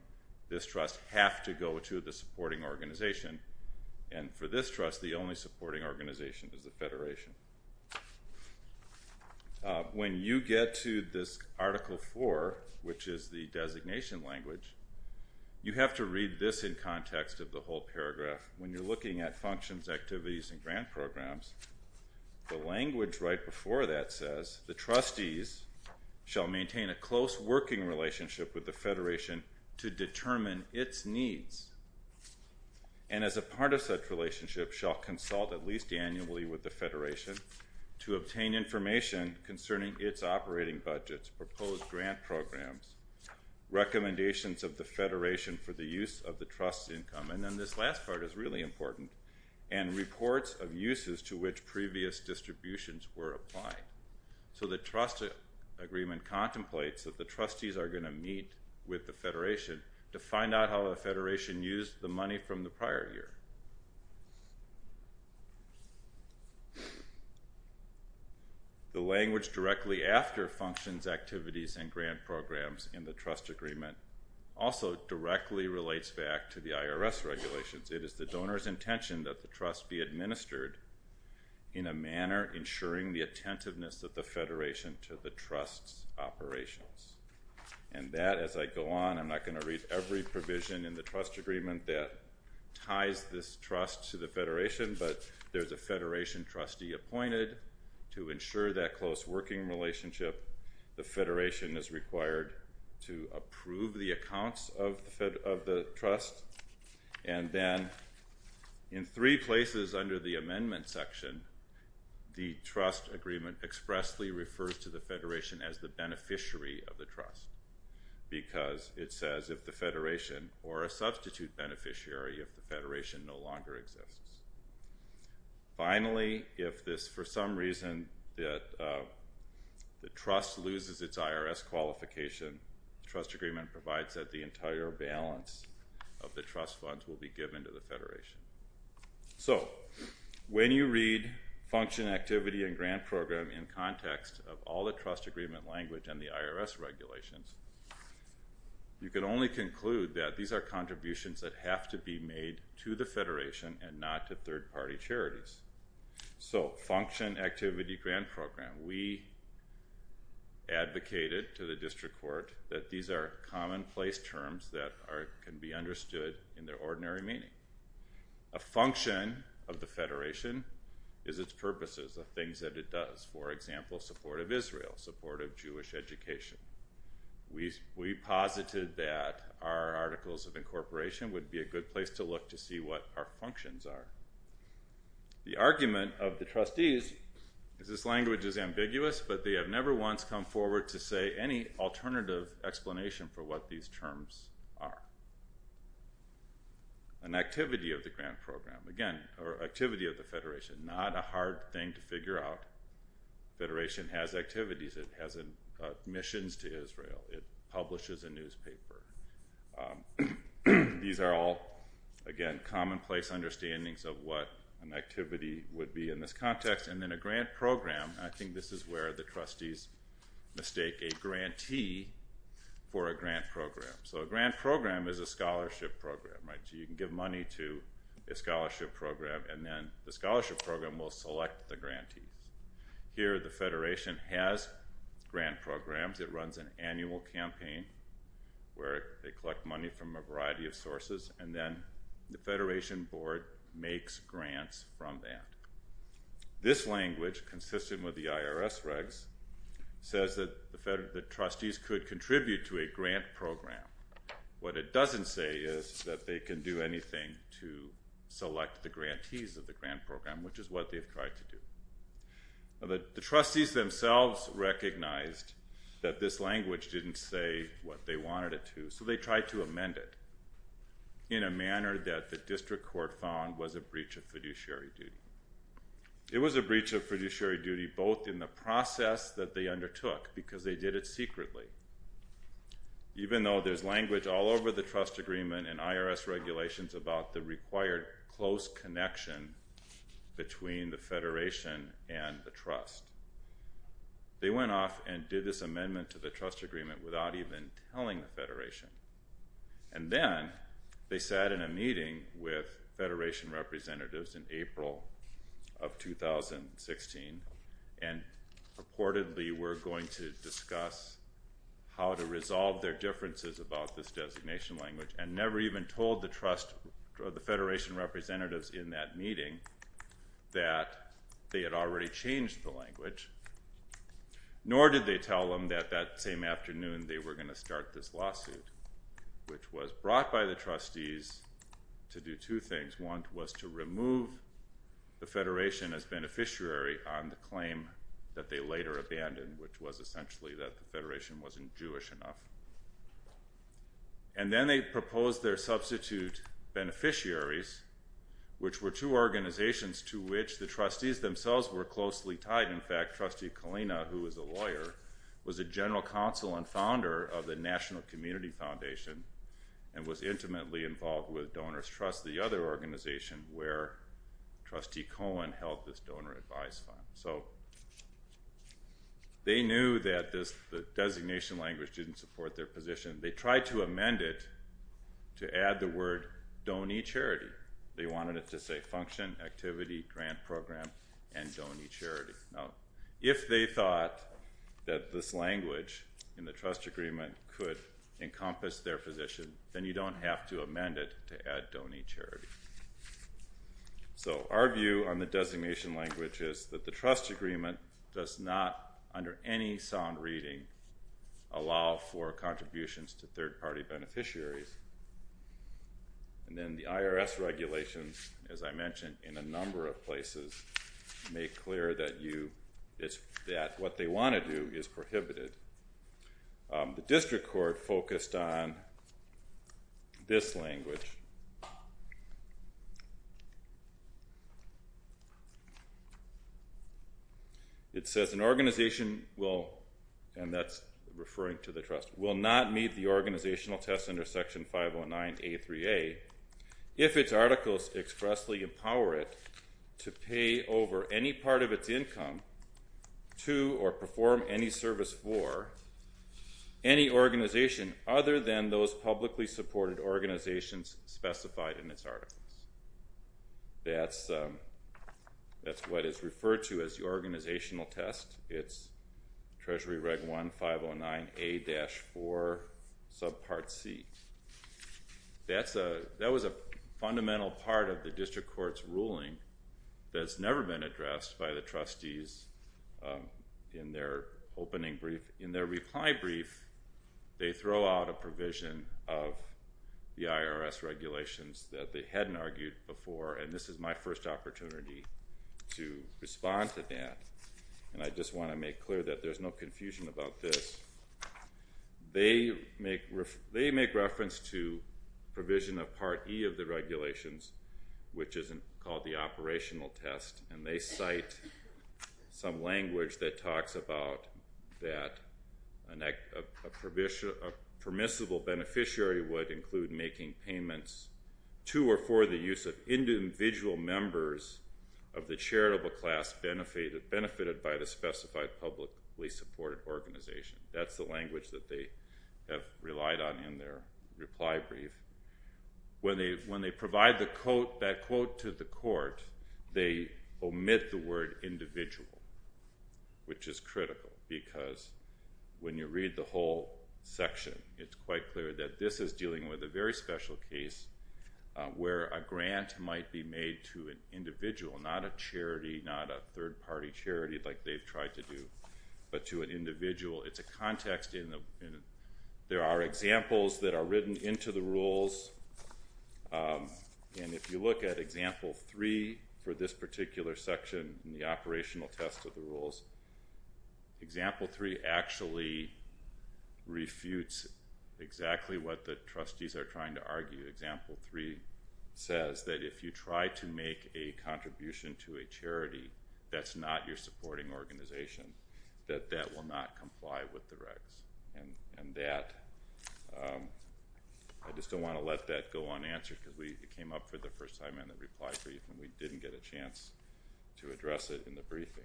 this trust have to go to the supporting organization. And for this trust, the only supporting organization is the Federation. When you get to this Article 4, which is the designation language, you have to read this in context of the whole paragraph. When you're looking at functions, activities, and grant programs, the language right before that says, the trustees shall maintain a close working relationship with the Federation to determine its needs. And as a part of such relationship, shall consult at least annually with the Federation to obtain information concerning its operating budgets, proposed grant programs, recommendations of the Federation for the use of the trust income, and then this last part is really important, and reports of uses to which previous distributions were applied. So the trust agreement contemplates that the trustees are going to meet with the Federation to find out how the Federation used the money from the prior year. The language directly after functions, activities, and grant programs in the trust agreement also directly relates back to the IRS regulations. It is the donor's intention that the trust be administered in a manner ensuring the attentiveness of the Federation to the trust's operations. And that, as I go on, I'm not going to read every provision in the trust agreement that ties this trust to the Federation, but there's a Federation trustee appointed to ensure that close working relationship. The Federation is required to approve the accounts of the trust, and then in three places under the amendment section, the trust agreement expressly refers to the Federation as the beneficiary of the trust because it says if the Federation or a substitute beneficiary of the Federation no longer exists. Finally, if for some reason the trust loses its IRS qualification, the trust agreement provides that the entire balance of the trust funds will be given to the Federation. So when you read function, activity, and grant program in context of all the trust agreement language and the IRS regulations, you can only conclude that these are contributions that have to be made to the Federation and not to third-party charities. So function, activity, grant program. We advocated to the district court that these are commonplace terms that can be understood in their ordinary meaning. A function of the Federation is its purposes, the things that it does. For example, support of Israel, support of Jewish education. We posited that our articles of incorporation would be a good place to look to see what our functions are. The argument of the trustees is this language is ambiguous, but they have never once come forward to say any alternative explanation for what these terms are. An activity of the grant program, again, or activity of the Federation. Not a hard thing to figure out. The Federation has activities. It has missions to Israel. It publishes a newspaper. These are all, again, commonplace understandings of what an activity would be in this context. And then a grant program, and I think this is where the trustees mistake a grantee for a grant program. So a grant program is a scholarship program, right? So you can give money to a scholarship program, and then the scholarship program will select the grantee. Here, the Federation has grant programs. It runs an annual campaign where they collect money from a variety of sources, and then the Federation board makes grants from that. This language, consistent with the IRS regs, says that the trustees could contribute to a grant program. What it doesn't say is that they can do anything to select the grantees of the grant program, which is what they've tried to do. The trustees themselves recognized that this language didn't say what they wanted it to, so they tried to amend it in a manner that the district court found was a breach of fiduciary duty. It was a breach of fiduciary duty both in the process that they undertook, because they did it secretly, even though there's language all over the trust agreement and IRS regulations about the required close connection between the Federation and the trust. They went off and did this amendment to the trust agreement without even telling the Federation, and then they sat in a meeting with Federation representatives in April of 2016, and reportedly were going to discuss how to resolve their differences about this designation language and never even told the Federation representatives in that meeting that they had already changed the language, nor did they tell them that that same afternoon they were going to start this lawsuit, which was brought by the trustees to do two things. One was to remove the Federation as beneficiary on the claim that they later abandoned, which was essentially that the Federation wasn't Jewish enough. And then they proposed their substitute beneficiaries, which were two organizations to which the trustees themselves were closely tied. In fact, Trustee Kalina, who was a lawyer, was a general counsel and founder of the National Community Foundation and was intimately involved with Donors Trust, the other organization where Trustee Cohen held this donor advice fund. So they knew that this designation language didn't support their position. They tried to amend it to add the word Donate Charity. They wanted it to say Function, Activity, Grant Program, and Donate Charity. Now, if they thought that this language in the trust agreement could encompass their position, then you don't have to amend it to add Donate Charity. So our view on the designation language is that the trust agreement does not, under any sound reading, allow for contributions to third-party beneficiaries. And then the IRS regulations, as I mentioned in a number of places, make clear that what they want to do is prohibited. The district court focused on this language. It says an organization will, and that's referring to the trust, will not meet the organizational test under Section 509A3A if its articles expressly empower it to pay over any part of its income to or perform any service for any organization other than those publicly supported organizations specified in its articles. That's what is referred to as the organizational test. It's Treasury Reg 1509A-4 subpart C. That was a fundamental part of the district court's ruling that's never been addressed by the trustees in their opening brief. In their reply brief, they throw out a provision of the IRS regulations that they hadn't argued before, and this is my first opportunity to respond to that, and I just want to make clear that there's no confusion about this. They make reference to provision of Part E of the regulations, which isn't called the operational test, and they cite some language that talks about that a permissible beneficiary would include making payments to or for the use of individual members of the charitable class benefited by the specified publicly supported organization. That's the language that they have relied on in their reply brief. When they provide that quote to the court, they omit the word individual, which is critical because when you read the whole section, it's quite clear that this is dealing with a very special case where a grant might be made to an individual, not a charity, not a third-party charity like they've tried to do, but to an individual. It's a context, and there are examples that are written into the rules, and if you look at example three for this particular section in the operational test of the rules, example three actually refutes exactly what the trustees are trying to argue. Example three says that if you try to make a contribution to a charity that's not your supporting organization, that that will not comply with the records. I just don't want to let that go unanswered because it came up for the first time in the reply brief, and we didn't get a chance to address it in the briefing.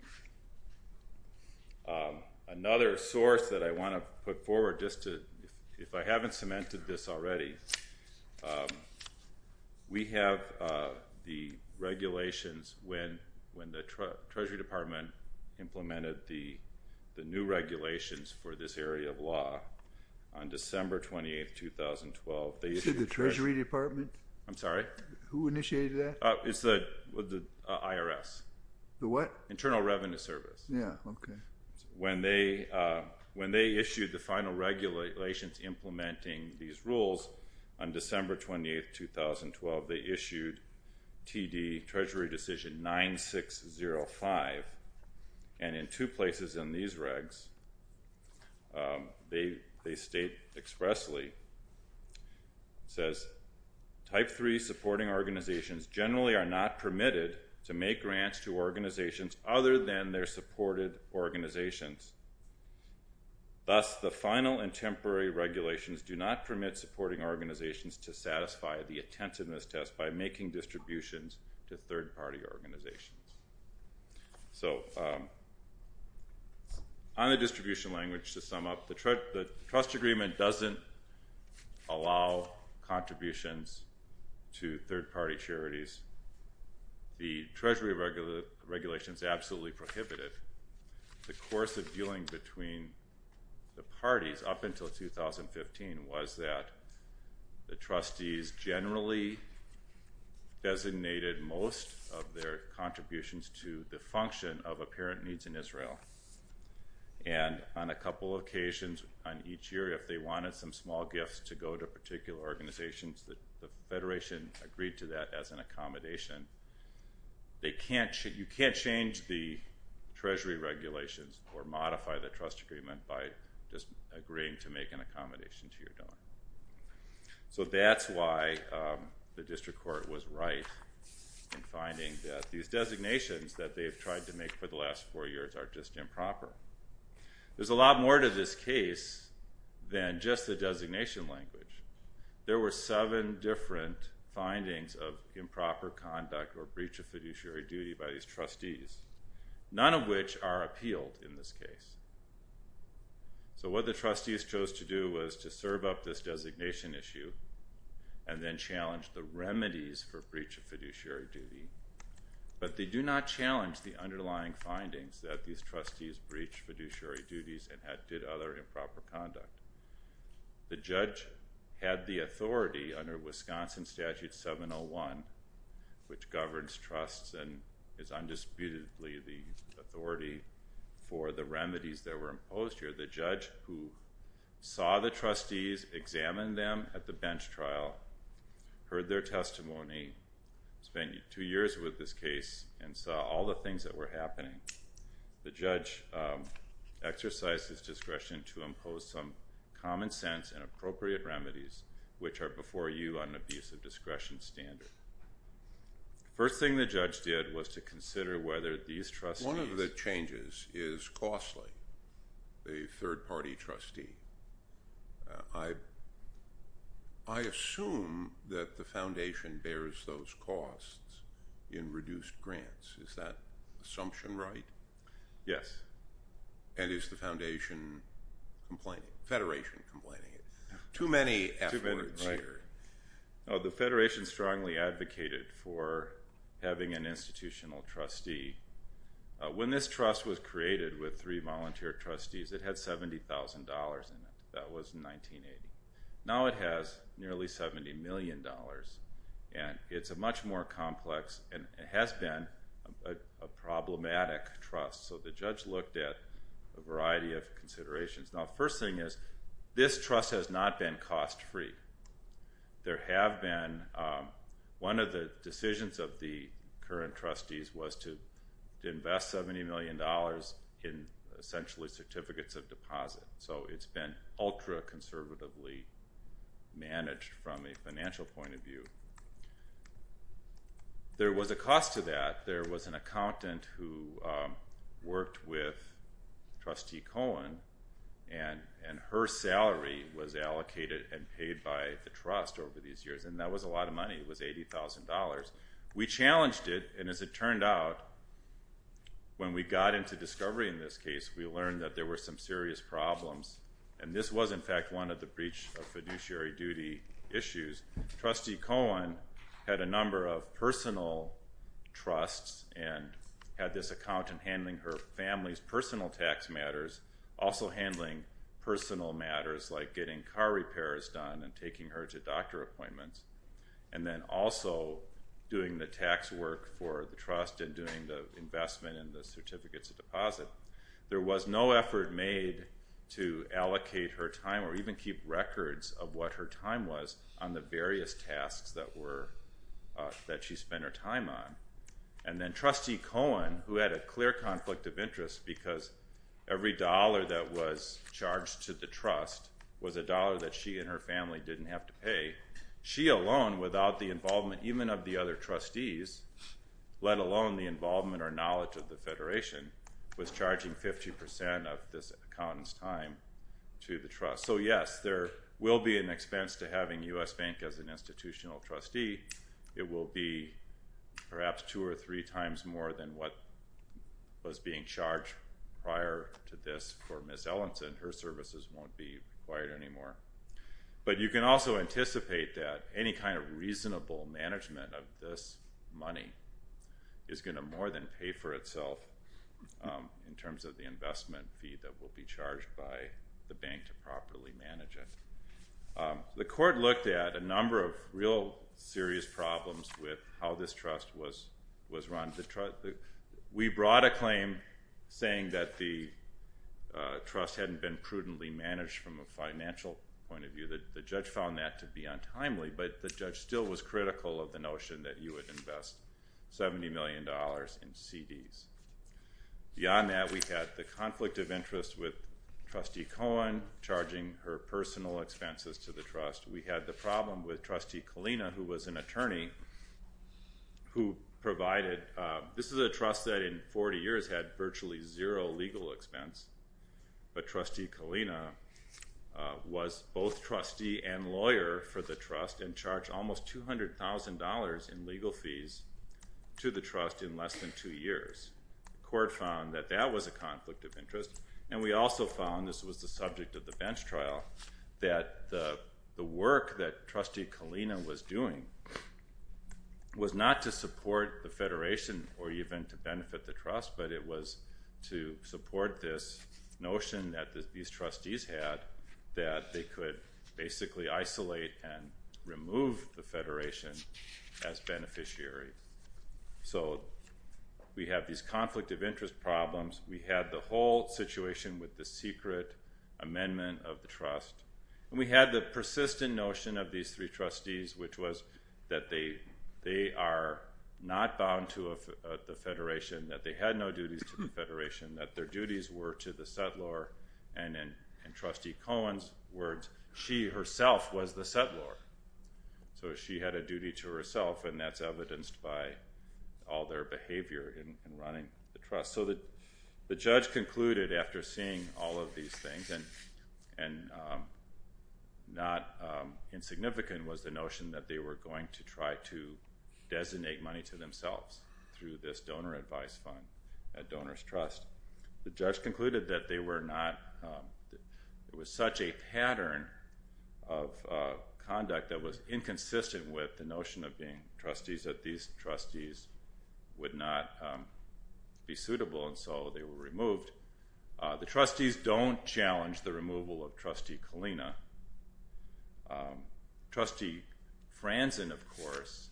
Another source that I want to put forward just to, if I haven't cemented this already, we have the regulations when the Treasury Department implemented the new regulations for this area of law on December 28, 2012. Is it the Treasury Department? I'm sorry? Who initiated that? It's the IRS. The what? Internal Revenue Service. Yeah, okay. When they issued the final regulations implementing these rules on December 28, 2012, they issued TD Treasury Decision 9605, and in two places in these regs, they state expressly, it says, Type III supporting organizations generally are not permitted to make grants to organizations other than their supported organizations. Thus, the final and temporary regulations do not permit supporting organizations to satisfy the attentiveness test by making distributions to third-party organizations. So on a distribution language, to sum up, the trust agreement doesn't allow contributions to third-party charities. The Treasury regulations absolutely prohibit it. The course of dealing between the parties up until 2015 was that the trustees generally designated most of their contributions to the function of apparent needs in Israel. And on a couple of occasions on each year, if they wanted some small gifts to go to particular organizations, the Federation agreed to that as an accommodation. You can't change the Treasury regulations or modify the trust agreement by just agreeing to make an accommodation to your daughter. So that's why the district court was right in finding that these designations that they've tried to make for the last four years are just improper. There's a lot more to this case than just the designation language. There were seven different findings of improper conduct or breach of fiduciary duty by these trustees, none of which are appealed in this case. So what the trustees chose to do was to serve up this designation issue and then challenge the remedies for breach of fiduciary duty. But they do not challenge the underlying findings that these trustees breached fiduciary duties and did other improper conduct. The judge had the authority under Wisconsin Statute 701, which governs trusts and is undisputedly the authority for the remedies that were imposed here. The judge who saw the trustees, examined them at the bench trial, heard their testimony, spent two years with this case and saw all the things that were happening, the judge exercised his discretion to impose some common sense and appropriate remedies which are before you on an abuse of discretion standard. The first thing the judge did was to consider whether these trustees... One of the changes is costly. A third-party trustee. I assume that the foundation bears those costs in reduced grants. Is that assumption right? Yes. And is the foundation complaining? Federation complaining. Too many efforts here. The federation strongly advocated for having an institutional trustee. When this trust was created with three volunteer trustees, it had $70,000 in it. That was in 1980. Now it has nearly $70 million. And it's a much more complex and has been a problematic trust. So the judge looked at a variety of considerations. Now the first thing is this trust has not been cost-free. There have been... One of the decisions of the current trustees was to invest $70 million in essentially certificates of deposit. So it's been ultra-conservatively managed from a financial point of view. There was a cost to that. There was an accountant who worked with Trustee Cohen and her salary was allocated and paid by the trust over these years. And that was a lot of money. It was $80,000. We challenged it, and as it turned out, when we got into discovery in this case, we learned that there were some serious problems. And this was, in fact, one of the breach of fiduciary duty issues. Trustee Cohen had a number of personal trusts and had this accountant handling her family's personal tax matters, also handling personal matters like getting car repairs done and taking her to doctor appointments, and then also doing the tax work for the trust and doing the investment in the certificates of deposit. There was no effort made to allocate her time or even keep records of what her time was on the various tasks that she spent her time on. And then Trustee Cohen, who had a clear conflict of interest because every dollar that was charged to the trust was a dollar that she and her family didn't have to pay, she alone, without the involvement even of the other trustees, let alone the involvement or knowledge of the Federation, was charging 50% of this accountant's time to the trust. So, yes, there will be an expense to having U.S. Bank as an institutional trustee. It will be perhaps two or three times more than what was being charged prior to this for Ms. Ellenson. Her services won't be required anymore. But you can also anticipate that any kind of reasonable management of this money is going to more than pay for itself in terms of the investment fee that will be charged by the bank to properly manage it. The court looked at a number of real serious problems with how this trust was run. We brought a claim saying that the trust hadn't been prudently managed from a financial point of view. The judge found that to be untimely, but the judge still was critical of the notion that you would invest $70 million in CDs. Beyond that, we've had the conflict of interest with Trustee Cohen charging her personal expenses to the trust. We had the problem with Trustee Kalina, who was an attorney, who provided a trust that in 40 years had virtually zero legal expense. But Trustee Kalina was both trustee and lawyer for the trust and charged almost $200,000 in legal fees to the trust in less than two years. The court found that that was a conflict of interest. And we also found, this was the subject of the bench trial, that the work that Trustee Kalina was doing was not to support the federation or even to benefit the trust, but it was to support this notion that these trustees had that they could basically isolate and remove the federation as beneficiary. So we have these conflict of interest problems. We have the whole situation with the secret amendment of the trust. And we have the persistent notion of these three trustees, which was that they are not bound to the federation, that they had no duty to the federation, that their duties were to the settlor. And in Trustee Cohen's words, she herself was the settlor. So she had a duty to herself, and that's evidenced by all their behavior in running the trust. So the judge concluded after seeing all of these things and not insignificant was the notion that they were going to try to designate money to themselves through this donor advice fund, a donor's trust. The judge concluded that there was such a pattern of conduct that was inconsistent with the notion of being trustees, that these trustees would not be suitable, and so they were removed. The trustees don't challenge the removal of Trustee Kalina. Trustee Franzen, of course,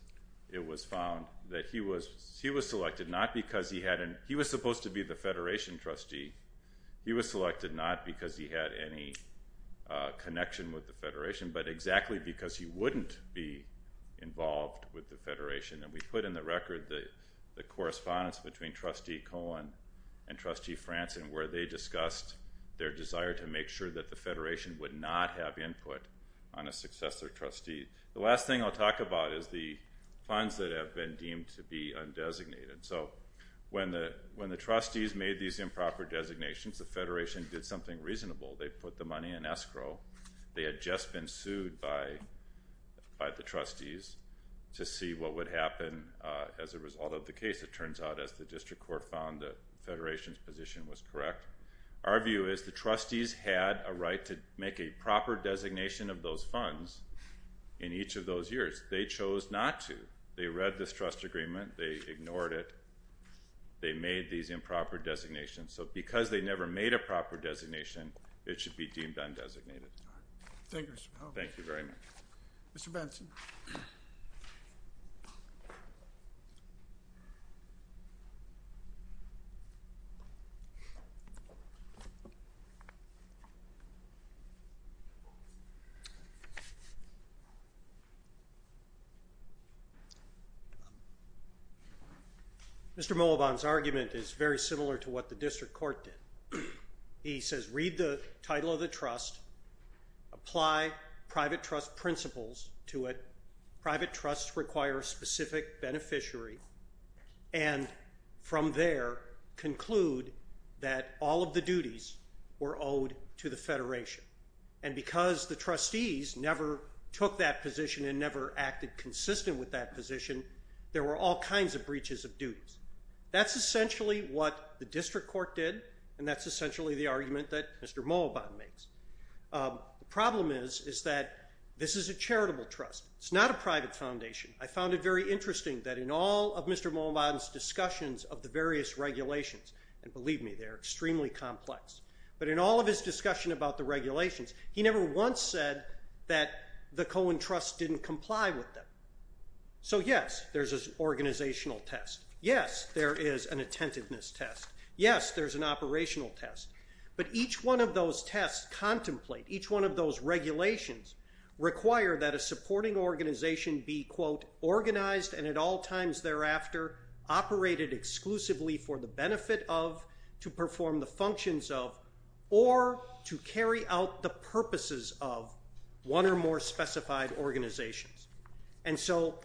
it was found that he was selected not because he had an – he was supposed to be the federation trustee. He was selected not because he had any connection with the federation, but exactly because he wouldn't be involved with the federation. And we put in the record the correspondence between Trustee Cohen and Trustee Franzen where they discussed their desire to make sure that the federation would not have input on a successor trustee. The last thing I'll talk about is the funds that have been deemed to be undesignated. So when the trustees made these improper designations, the federation did something reasonable. They put the money in escrow. They had just been sued by the trustees to see what would happen as a result of the case. It turns out that the district court found that the federation's position was correct. Our view is the trustees had a right to make a proper designation of those funds in each of those years. They chose not to. They read this trust agreement. They ignored it. They made these improper designations. So because they never made a proper designation, it should be deemed undesignated. Thank you, Mr. Cohen. Thank you very much. Mr. Benson. Mr. Mullivan's argument is very similar to what the district court did. He says read the title of the trust, apply private trust principles to it. Private trusts require a specific beneficiary, and from there conclude that all of the duties were owed to the federation. And because the trustees never took that position and never acted consistent with that position, there were all kinds of breaches of duties. That's essentially what the district court did, and that's essentially the argument that Mr. Mullivan makes. The problem is that this is a charitable trust. It's not a private foundation. I found it very interesting that in all of Mr. Mullivan's discussions of the various regulations, and believe me, they're extremely complex, but in all of his discussion about the regulations, he never once said that the Cohen Trust didn't comply with them. So, yes, there's an organizational test. Yes, there is an attentiveness test. Yes, there's an operational test. But each one of those tests contemplate, each one of those regulations, require that a supporting organization be, quote, organized and at all times thereafter, operated exclusively for the benefit of, to perform the functions of, or to carry out the purposes of one or more specified organizations. And so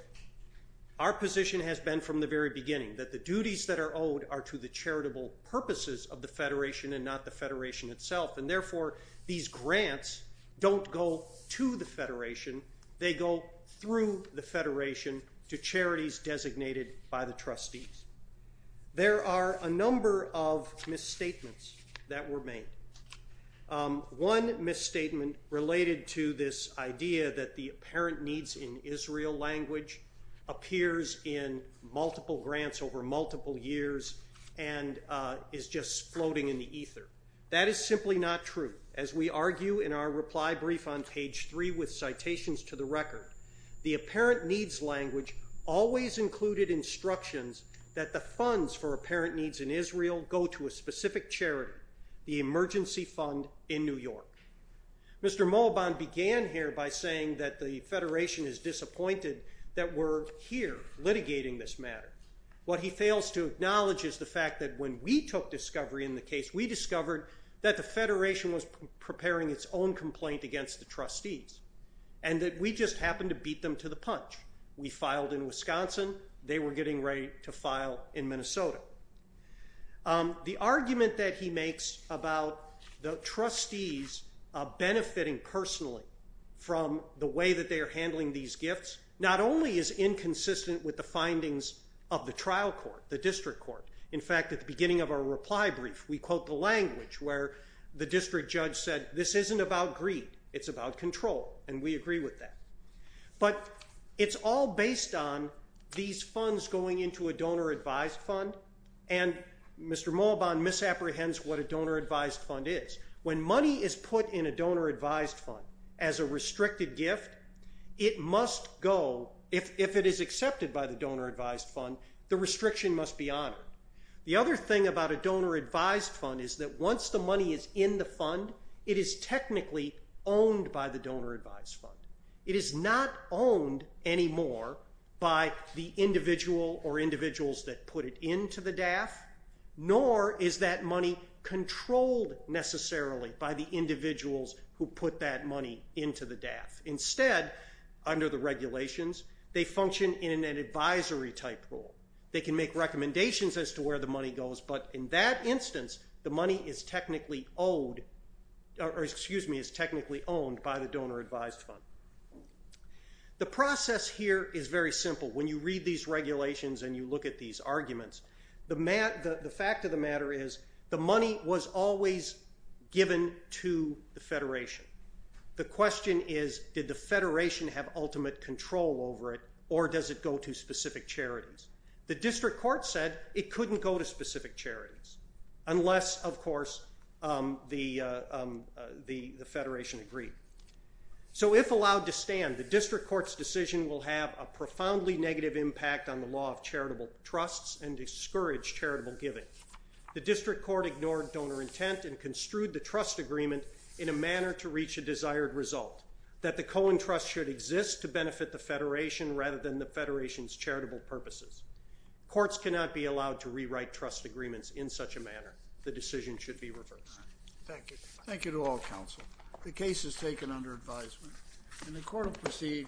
our position has been from the very beginning that the duties that are owed are to the charitable purposes of the federation and not the federation itself, and therefore these grants don't go to the federation. They go through the federation to charities designated by the trustees. There are a number of misstatements that were made. One misstatement related to this idea that the apparent needs in Israel language appears in multiple grants over multiple years and is just floating in the ether. That is simply not true. As we argue in our reply brief on page three with citations to the record, the apparent needs language always included instructions that the funds for apparent needs in Israel go to a specific charity, the Emergency Fund in New York. Mr. Moabon began here by saying that the federation is disappointed that we're here litigating this matter. What he fails to acknowledge is the fact that when we took discovery in the case, we discovered that the federation was preparing its own complaint against the trustees and that we just happened to beat them to the punch. We filed in Wisconsin. They were getting ready to file in Minnesota. The argument that he makes about the trustees benefiting personally from the way that they are handling these gifts not only is inconsistent with the findings of the trial court, the district court. In fact, at the beginning of our reply brief, we quote the language where the district judge said, this isn't about greed, it's about control, and we agree with that. But it's all based on these funds going into a donor-advised fund, and Mr. Moabon misapprehends what a donor-advised fund is. When money is put in a donor-advised fund as a restricted gift, it must go. If it is accepted by the donor-advised fund, the restriction must be honored. The other thing about a donor-advised fund is that once the money is in the fund, it is technically owned by the donor-advised fund. It is not owned anymore by the individual or individuals that put it into the DAF, nor is that money controlled necessarily by the individuals who put that money into the DAF. Instead, under the regulations, they function in an advisory-type role. They can make recommendations as to where the money goes, but in that instance, the money is technically owned by the donor-advised fund. The process here is very simple. When you read these regulations and you look at these arguments, the fact of the matter is the money was always given to the Federation. The question is did the Federation have ultimate control over it, or does it go to specific charities? The district court said it couldn't go to specific charities unless, of course, the Federation agreed. So if allowed to stand, the district court's decision will have a profoundly negative impact on the law of charitable trusts and discourage charitable giving. The district court ignored donor intent and construed the trust agreement in a manner to reach a desired result, that the Cohen Trust should exist to benefit the Federation rather than the Federation's charitable purposes. Courts cannot be allowed to rewrite trust agreements in such a manner. The decision should be reversed. Thank you. Thank you to all counsel. The case is taken under advisement. And the court will proceed.